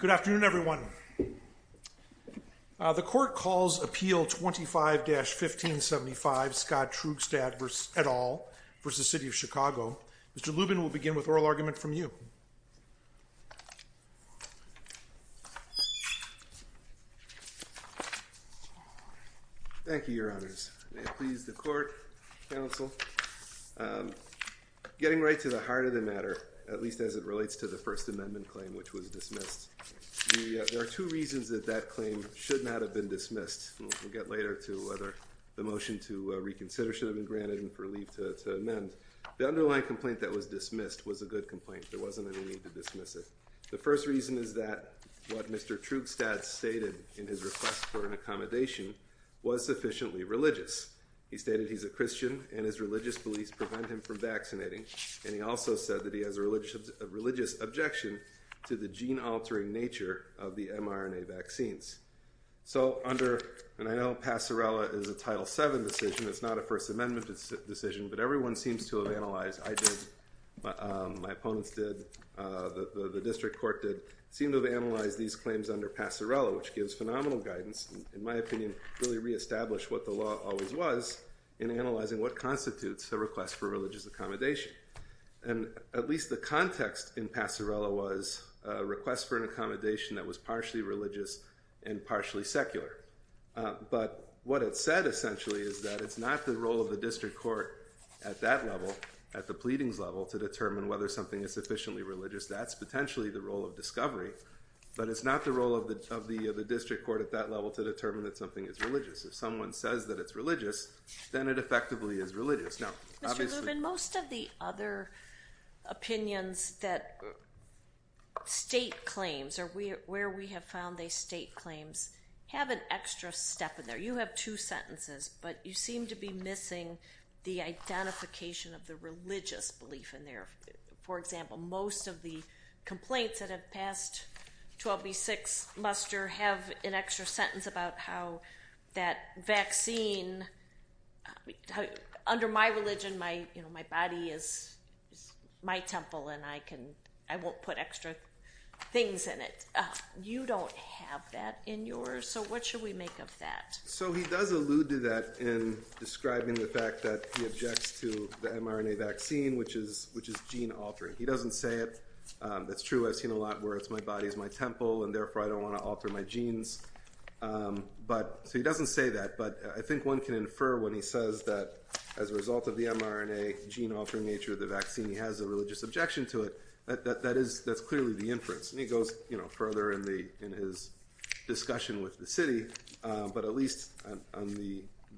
Good afternoon everyone. The court calls appeal 25-1575 Scott Troogstad et al. v. City of Chicago. Mr. Lubin will begin with oral argument from you. Thank you, your honors. May it please the court, counsel. Getting right to the heart of the matter, at least as it relates to the First Amendment claim which was dismissed, there are two reasons that that claim should not have been dismissed. We'll get later to whether the motion to reconsider should have been granted and relieved to amend. The underlying complaint that was dismissed was a good complaint. There wasn't any need to dismiss it. The first reason is that what Mr. Troogstad stated in his request for an accommodation was sufficiently religious. He stated he's a Christian and his religious beliefs prevent him from vaccinating and he also said that he has a religious objection to the gene-altering nature of the mRNA vaccines. So under, and I know Passerella is a Title VII decision, it's not a First Amendment decision, but everyone seems to have analyzed, I did, my opponents did, the district court did, seem to have analyzed these claims under Passerella which gives phenomenal guidance and in my opinion really re-established what the law always was in analyzing what constitutes a request for religious accommodation. And at least the context in Passerella was a request for an accommodation that was partially said essentially is that it's not the role of the district court at that level, at the pleadings level, to determine whether something is sufficiently religious. That's potentially the role of discovery, but it's not the role of the of the district court at that level to determine that something is religious. If someone says that it's religious, then it effectively is religious. Now, Mr. Lubin, most of the other opinions that state claims or where we have found these state claims have an extra step in there. You have two sentences, but you seem to be missing the identification of the religious belief in there. For example, most of the complaints that have passed 12b6 muster have an extra sentence about how that vaccine, under my religion, my, you know, my body is my temple and I can, I won't put extra things in it. You don't have that in yours, so what should we make of that? So he does allude to that in describing the fact that he objects to the mRNA vaccine, which is gene-altering. He doesn't say it. That's true. I've seen a lot where it's my body is my temple and therefore I don't want to alter my genes. So he doesn't say that, but I think one can infer when he says that as a result of the mRNA gene-altering nature of the vaccine, he has a religious objection to it, that that is, that's clearly the inference. And he goes, you know, further in the, in his discussion with the city, but at least on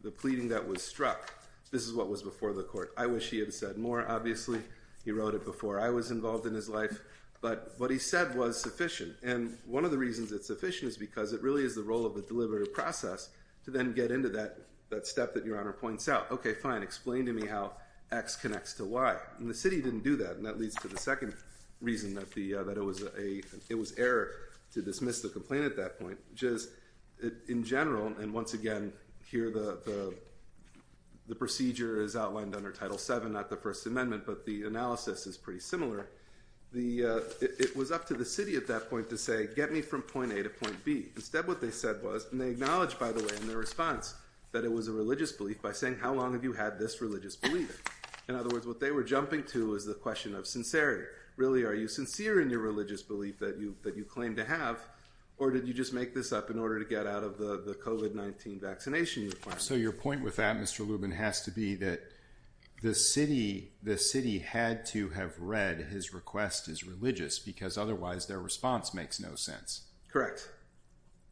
the pleading that was struck, this is what was before the court. I wish he had said more, obviously. He wrote it before I was involved in his life, but what he said was sufficient. And one of the reasons it's sufficient is because it really is the role of the deliberative process to then get into that, that step that Your Honor points out. Okay, fine, explain to me how X connects to Y. And the city didn't do that, and that leads to the second reason that the, that it was a, it was error to dismiss the complaint at that point, which is, in general, and once again, here the, the procedure is outlined under Title VII, not the First Amendment, but the analysis is pretty similar. The, it was up to the city at that point to say, get me from point A to point B. Instead, what they said was, and they acknowledged, by the way, in their response, that it was a religious belief by saying, how long have you had this religious belief? In other words, what they were jumping to is the question of sincerity. Really, are you sincere in your religious belief that you, that you claim to have, or did you just make this up in order to get out of the, the COVID-19 vaccination requirement? So your point with that, Mr. Lubin, has to be that the city, the city had to have read his request as religious, because otherwise their response makes no sense. Correct.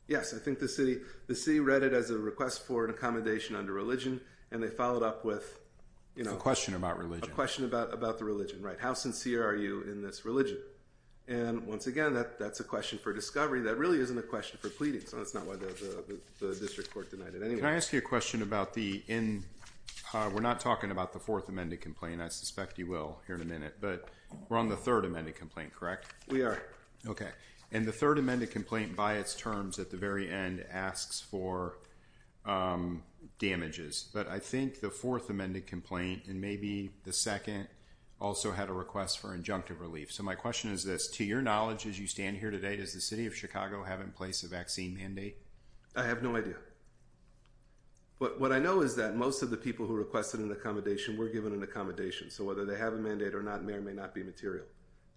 Yes, I think the city, the city read it as a request for an accommodation under religion, and they followed up with, you know. A question about religion. A question about, about the religion, right? How sincere are you in this religion? And once again, that, that's a question for discovery. That really isn't a question for pleading, so that's not why the District Court denied it anyway. Can I ask you a question about the, in, we're not talking about the Fourth Amended Complaint, I suspect you will here in a minute, but we're on the Third Amended Complaint, correct? We are. Okay, and the Third Amended Complaint, by its terms, at the damages, but I think the Fourth Amended Complaint, and maybe the second, also had a request for injunctive relief. So my question is this, to your knowledge as you stand here today, does the City of Chicago have in place a vaccine mandate? I have no idea, but what I know is that most of the people who requested an accommodation were given an accommodation, so whether they have a mandate or not may or may not be material.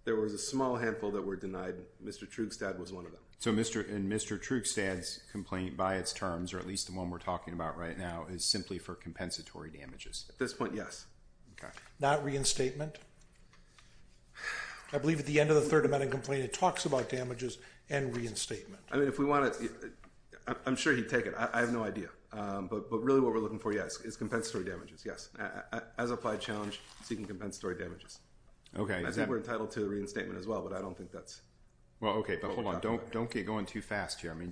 There was a small handful that were denied. Mr. Trugstad was one of them. So Mr., in Mr. Trugstad's complaint, by its terms, or at least the one we're talking about right now, is simply for compensatory damages? At this point, yes. Okay. Not reinstatement? I believe at the end of the Third Amended Complaint it talks about damages and reinstatement. I mean, if we want to, I'm sure he'd take it, I have no idea, but really what we're looking for, yes, is compensatory damages, yes. As applied challenge, seeking compensatory damages. Okay. I think we're entitled to reinstatement as well, but I don't think that's... Well, okay, but hold on, don't get going too fast here. I mean,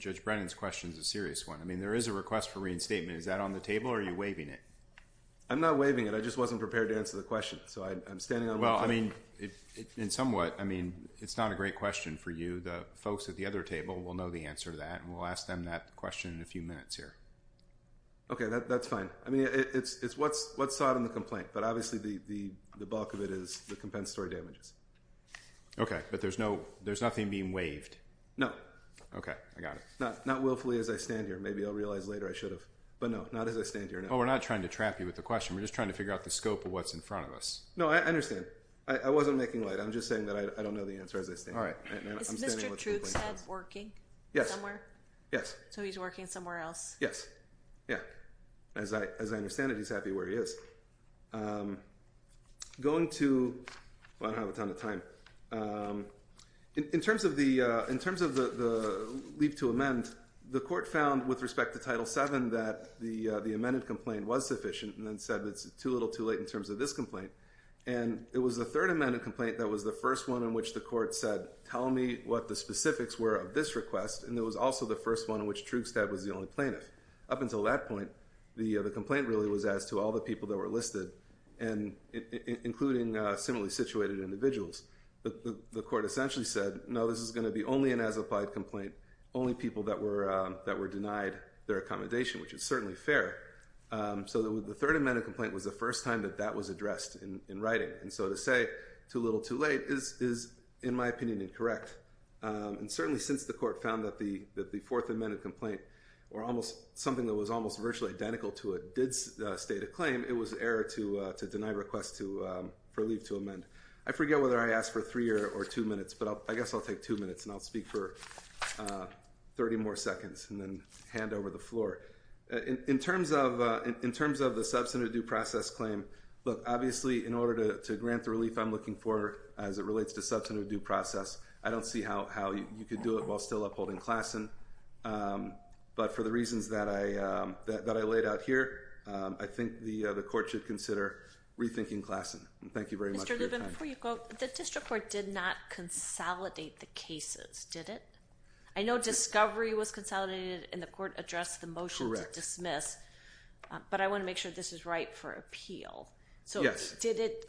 there is a request for reinstatement. Is that on the table, or are you waiving it? I'm not waiving it. I just wasn't prepared to answer the question, so I'm standing on... Well, I mean, in somewhat, I mean, it's not a great question for you. The folks at the other table will know the answer to that, and we'll ask them that question in a few minutes here. Okay, that's fine. I mean, it's what's sought in the complaint, but obviously the bulk of it is the compensatory damages. Okay, but there's no, there's nothing being waived? No. Okay, I got it. Not willfully as I stand here. Maybe I'll realize later I should have, but no, not as I stand here now. Well, we're not trying to trap you with the question. We're just trying to figure out the scope of what's in front of us. No, I understand. I wasn't making light. I'm just saying that I don't know the answer as I stand here. All right. Is Mr. Trooks head working? Yes. Somewhere? Yes. So he's working somewhere else? Yes. Yeah. As I understand it, he's happy where he is. Going to... Well, I don't have a ton of time. In terms of the leave to amend, the court found with respect to Title VII that the amended complaint was sufficient and then said it's too little too late in terms of this complaint. And it was the third amended complaint that was the first one in which the court said, tell me what the specifics were of this request. And it was also the first one in which Troogstad was the only plaintiff. Up until that point, the complaint really was as to all the people that were listed, including similarly situated individuals. The court essentially said, no, this is going to be only an as-applied complaint, only people that were denied their accommodation, which is certainly fair. So the third amended complaint was the first time that that was addressed in writing. And so to say too little too late is, in my opinion, incorrect. And certainly since the court found that the fourth amended complaint or almost something that was almost virtually identical to a did state a claim, it was error to deny request for leave to amend. I forget whether I asked for three or two minutes, but I guess I'll take two minutes and I'll speak for 30 more seconds and then hand over the floor. In terms of the substantive due process claim, look, obviously in order to grant the relief I'm looking for as it relates to substantive due process, I don't see how you could do it while still upholding Klassen. But for the reasons that I laid out here, I think the court should consider rethinking Klassen. Thank you very much for your time. Mr. Lubin, before you go, the district court did not consolidate the cases, did it? I know discovery was consolidated and the court addressed the motion to dismiss, but I want to make sure this is right for appeal. So did it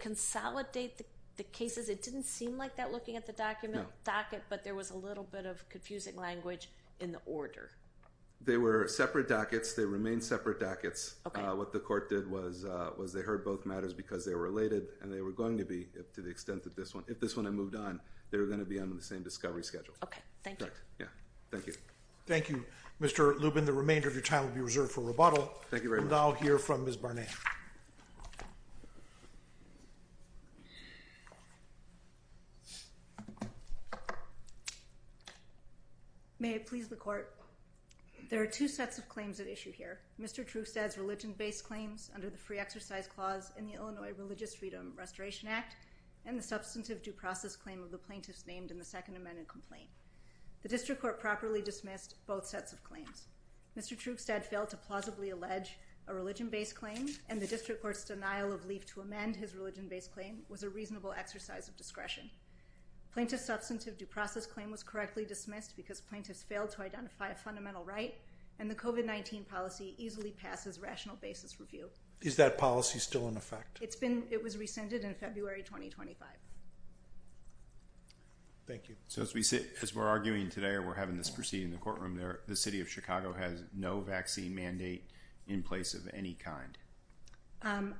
consolidate the cases? It didn't seem like that looking at the docket, but there was a little bit of confusing language in the order. They were separate dockets. They remain related and they were going to be, to the extent that this one, if this one had moved on, they were going to be on the same discovery schedule. Okay, thank you. Yeah, thank you. Thank you, Mr. Lubin. The remainder of your time will be reserved for rebuttal. Thank you very much. And I'll hear from Ms. Barnett. May I please the court? There are two sets of claims at issue here. Mr. Trustad's free exercise clause in the Illinois Religious Freedom Restoration Act and the substantive due process claim of the plaintiffs named in the second amended complaint. The district court properly dismissed both sets of claims. Mr. Trustad failed to plausibly allege a religion-based claim and the district court's denial of leave to amend his religion-based claim was a reasonable exercise of discretion. Plaintiff's substantive due process claim was correctly dismissed because plaintiffs failed to identify a fundamental right and the COVID-19 policy easily passes rational basis review. Is that policy still in effect? It's been, it was rescinded in February 2025. Thank you. So as we sit, as we're arguing today or we're having this proceeding in the courtroom there, the city of Chicago has no vaccine mandate in place of any kind. I'm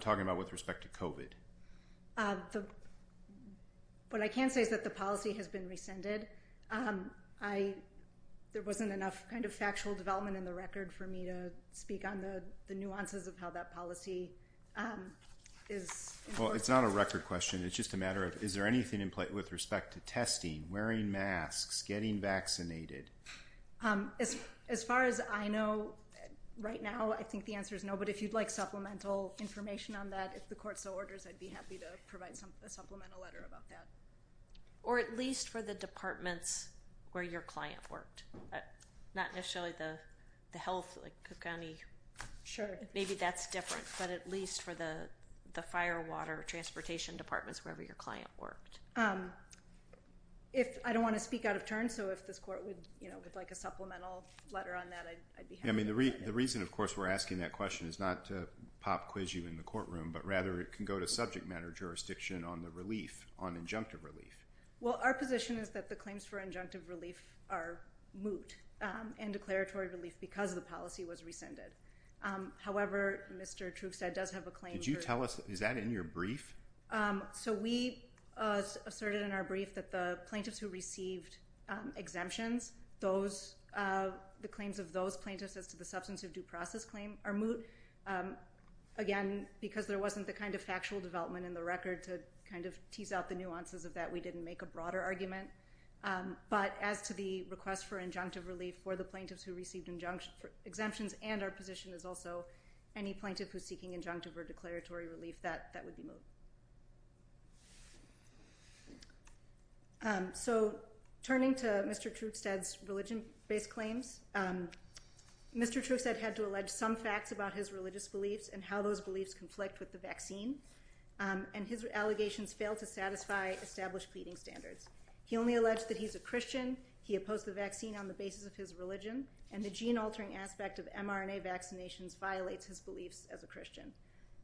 talking about with respect to COVID. What I can say is that the has been rescinded. I, there wasn't enough kind of factual development in the record for me to speak on the nuances of how that policy is. Well it's not a record question, it's just a matter of is there anything in play with respect to testing, wearing masks, getting vaccinated? As far as I know right now I think the answer is no but if you'd like supplemental information on that if the court so orders I'd be happy to provide some supplemental or at least for the departments where your client worked. Not necessarily the the health like Cook County. Sure. Maybe that's different but at least for the the fire water transportation departments wherever your client worked. If I don't want to speak out of turn so if this court would you know with like a supplemental letter on that I'd be happy. I mean the reason of course we're asking that question is not to pop quiz you in the courtroom but rather it can go to the subject matter jurisdiction on the relief on injunctive relief. Well our position is that the claims for injunctive relief are moot and declaratory relief because the policy was rescinded. However Mr. Trugstad does have a claim. Did you tell us is that in your brief? So we asserted in our brief that the plaintiffs who received exemptions those the claims of those plaintiffs as to the substance of due process claim are moot again because there wasn't the kind of factual development in the record to kind of tease out the nuances of that we didn't make a broader argument but as to the request for injunctive relief for the plaintiffs who received injunction exemptions and our position is also any plaintiff who's seeking injunctive or declaratory relief that that would be moot. So turning to Mr. Trugstad's religion-based claims. Mr. Trugstad had to allege some facts about his religious beliefs and how those beliefs conflict with the vaccine and his allegations fail to satisfy established pleading standards. He only alleged that he's a Christian. He opposed the vaccine on the basis of his religion and the gene altering aspect of mRNA vaccinations violates his beliefs as a Christian.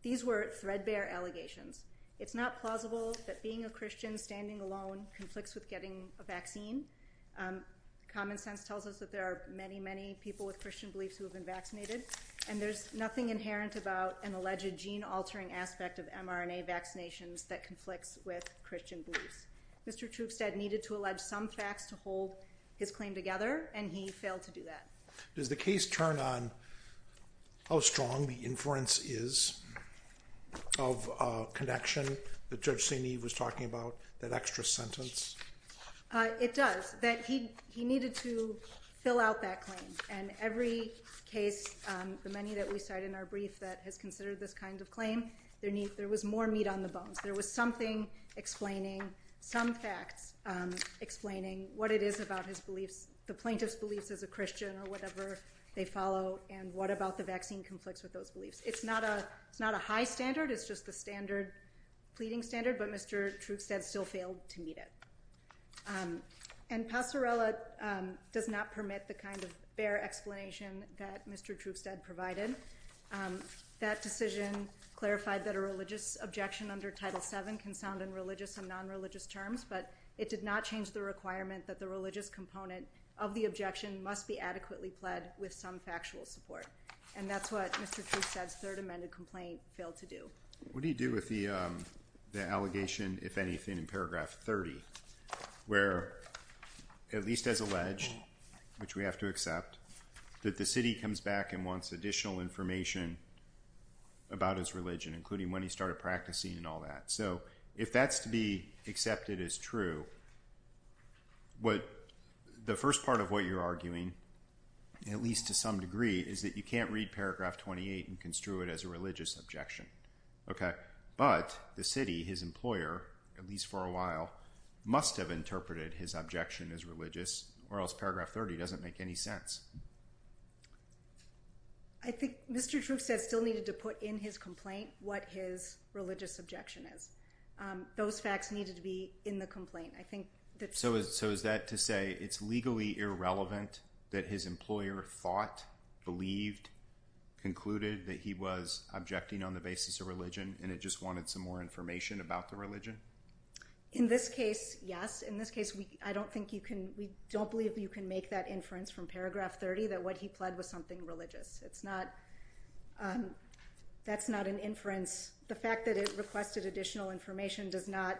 These were threadbare allegations. It's not plausible that being a Christian standing alone conflicts with getting a vaccine. Common sense tells us that there are many many people with Christian beliefs who have been vaccinated and there's nothing inherent about an alleged gene altering aspect of mRNA vaccinations that conflicts with Christian beliefs. Mr. Trugstad needed to allege some facts to hold his claim together and he failed to do that. Does the case turn on how strong the inference is of connection that Judge St. Eve was talking about that extra sentence? It does that he he needed to fill out that claim and every case the many that we cite in our brief that has considered this kind of claim there need there was more meat on the bones. There was something explaining some facts explaining what it is about his beliefs the plaintiff's beliefs as a Christian or whatever they follow and what about the vaccine conflicts with those beliefs. It's not a it's not a high standard it's just the standard pleading standard but Mr. Trugstad still failed to meet it and Pasarella does not permit the kind of bare explanation that Mr. Trugstad provided. That decision clarified that a religious objection under title 7 can sound in religious and non-religious terms but it did not change the requirement that the religious component of the objection must be adequately pled with some factual support and that's what Mr. Trugstad's third amended complaint failed to do. What do you do with the the allegation if anything in paragraph 30 where at least as alleged which we have to accept that the city comes back and wants additional information about his religion including when he started practicing and all that so if that's to be accepted as true what the first part of what you're arguing at least to some degree is that you can't read paragraph 28 and construe it as a religious objection okay but the city his employer at least for a while must have interpreted his objection as religious or else paragraph 30 doesn't make any sense. I think Mr. Trugstad still needed to put in his complaint what his religious objection is. Those facts needed to be in the complaint I think. So is that to say it's legally irrelevant that his employer thought, believed, concluded that he was objecting on the basis of religion and it just wanted some more information about the religion? In this case yes in this case we I don't think you can we don't believe you can make that inference from paragraph 30 that what he pled was something religious it's not that's not an inference the fact that it requested additional information does not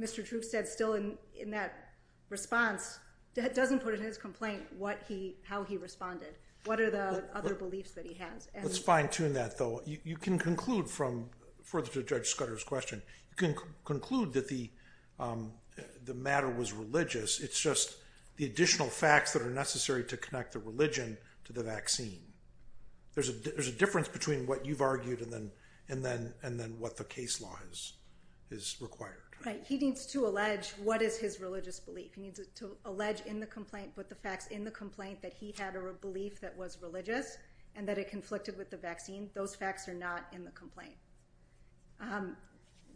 Mr. Trugstad still in in that response that doesn't put in his complaint what he how he responded what are the other beliefs that he has? Let's fine-tune that though you can conclude from further to Judge Scudder's question you can conclude that the the matter was religious it's just the additional facts that are necessary to connect the religion to the vaccine. There's a there's a difference between what you've argued and then and then and then what the case law is is required. Right he needs to allege what is his religious belief he needs to allege in the complaint but the facts in the complaint that he had or a belief that was religious and that it conflicted with the vaccine those facts are not in the complaint.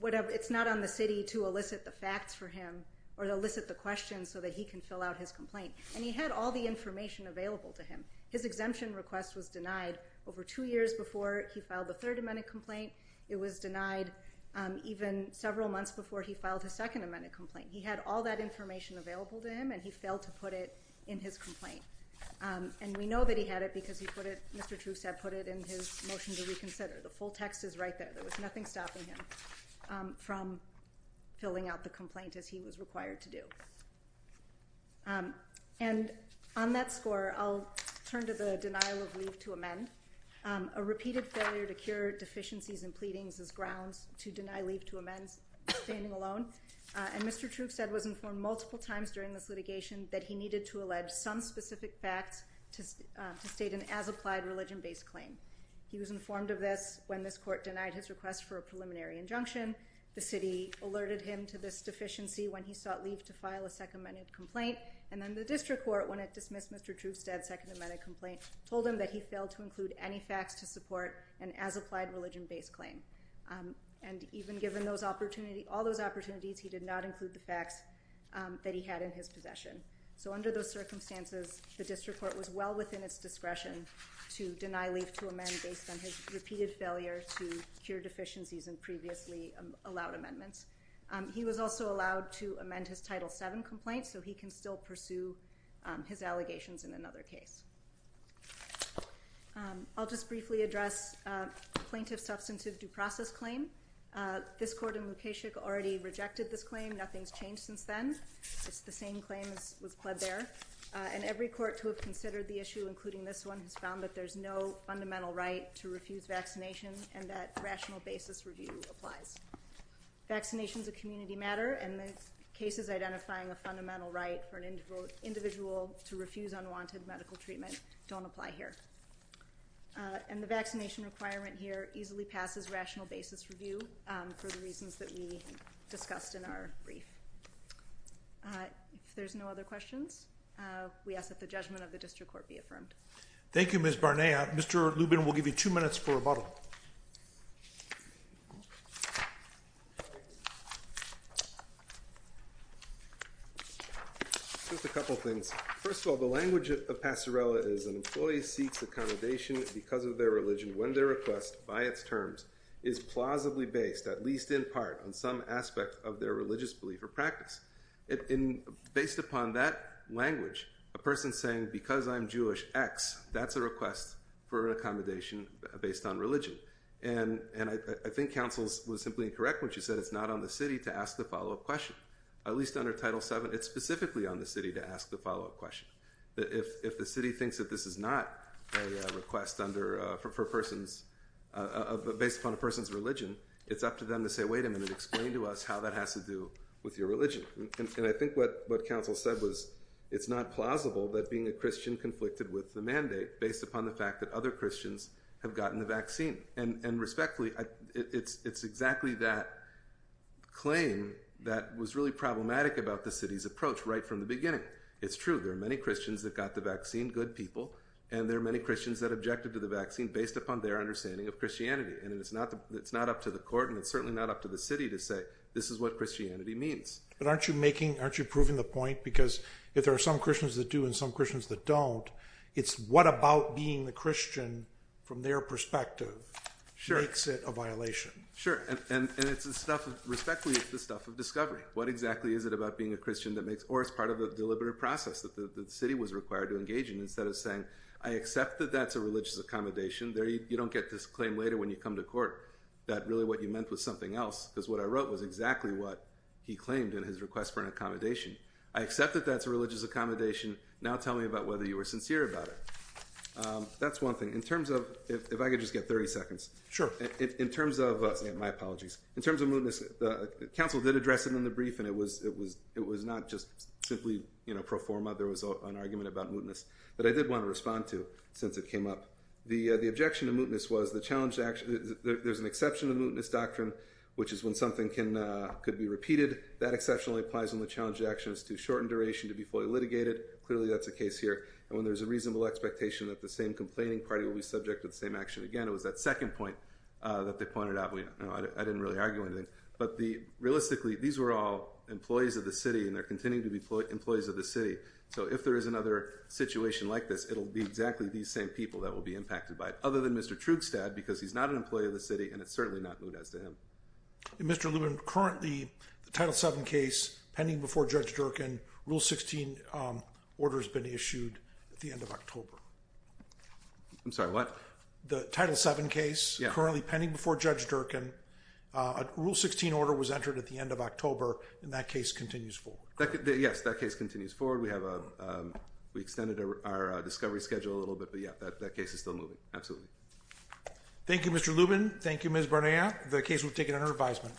Whatever it's not on the city to elicit the facts for him or to elicit the questions so that he can fill out his complaint and he had all the information available to him his exemption request was denied over two years before he filed the third amendment complaint it was denied even several months before he filed his second amendment complaint he had all that information available to him and he failed to put it in his complaint and we know that he had it because he put it Mr. Troofstad put it in his motion to reconsider the full text is right there there was nothing stopping him from filling out the complaint as he was required to do and on that score I'll turn to the denial of leave to amend a repeated failure to cure deficiencies and pleadings as grounds to deny leave to amend standing alone and Mr. Troofstad was informed multiple times during this litigation that he needed to allege some specific facts to state an as-applied religion-based claim he was informed of this when this court denied his request for a preliminary injunction the city alerted him to this deficiency when he sought leave to file a second minute complaint and then the district court when it dismissed Mr. Troofstad second amendment complaint told him that he failed to include any facts to support an as-applied religion-based claim and even given those opportunity all those opportunities he did not include the facts that he had in his possession so under those circumstances the district court was well within its discretion to deny leave to amend based on his repeated failure to cure deficiencies and previously allowed amendments he was also allowed to amend his title 7 complaint so he can still pursue his allegations in another case I'll just briefly address plaintiff substantive due process claim this court in location already rejected this claim nothing's changed since then it's the same claims was pled there and every court to have considered the issue including this one has found that there's no fundamental right to refuse vaccination and that rational basis review applies vaccinations a community matter and the cases identifying a fundamental right for an individual to refuse unwanted medical treatment don't apply here and the vaccination requirement here easily passes rational basis review for the reasons that we discussed in our brief there's no other questions we ask that the judgment of the district court be affirmed thank you miss Barnea mr. Lubin will give you two minutes for a bottle just a couple things first of all the language of passerella is an employee seeks accommodation because of their religion when their request by its terms is plausibly based at least in part on some aspect of their religious belief or practice in based upon that language a person saying because I'm Jewish X that's a request for accommodation based on religion and and I think councils was simply incorrect when she said it's not on the city to ask the follow-up question at least under title 7 it's specifically on the city to ask the follow-up question that if if the city thinks that this is not a request under for persons of the based on a person's religion it's up to them to say wait a minute explain to us how that has to do with your religion and I think what what counsel said was it's not plausible that being a Christian conflicted with the mandate based upon the fact that other Christians have gotten the vaccine and and respectfully it's it's exactly that claim that was really problematic about the city's approach right from the beginning it's true there are many Christians that got the vaccine good people and there are many Christians that objected to the vaccine based upon their understanding of Christianity and it's not that's not up to the court and it's certainly not up to the city to say this is what Christianity means but aren't you making aren't you proving the point because if there are some Christians that do and some Christians that don't it's what about being the Christian from their perspective sure exit a violation sure and it's the stuff respectfully it's the stuff of discovery what exactly is it about being a Christian that makes or as part of a deliberate process that the city was required to engage in instead of saying I accept that that's a religious accommodation there you don't get this claim later when you come to court that really what you meant was something else because what I wrote was exactly what he claimed in his request for an accommodation I accept that that's a religious accommodation now tell me about whether you were sincere about it that's one thing in terms of if I could just get 30 seconds sure in terms of my apologies in terms of mootness the council did address it in the brief and it was it was it was not just simply you know pro forma there was an argument about mootness but I did want to respond to since it came up the the objection to mootness was the challenge actually there's an exception to mootness doctrine which is when something can could be repeated that exceptionally applies on the challenge actions to shorten duration to be fully litigated clearly that's a case here and when there's a reasonable expectation that the same complaining party will be subject to the same action again it was that second point that they pointed out we know I didn't really argue anything but the realistically these were all employees of the city and they're continuing to be put employees of the city so if there is another situation like this it'll be exactly these same people that will be impacted by it other than mr. Trugstad because he's not an employee of the city and it's certainly not moot as to him mr. Lumen currently the title 7 case pending before judge Durkin rule 16 order has been issued at the end of October I'm sorry what the title 7 case currently pending before judge Durkin a rule 16 order was entered at the end of October in that case continues forward yes that case continues forward we have a we extended our discovery schedule a little bit but yeah that case is still moving absolutely Thank You mr. Lubin Thank You mrs. Bernier the case will take it under advisement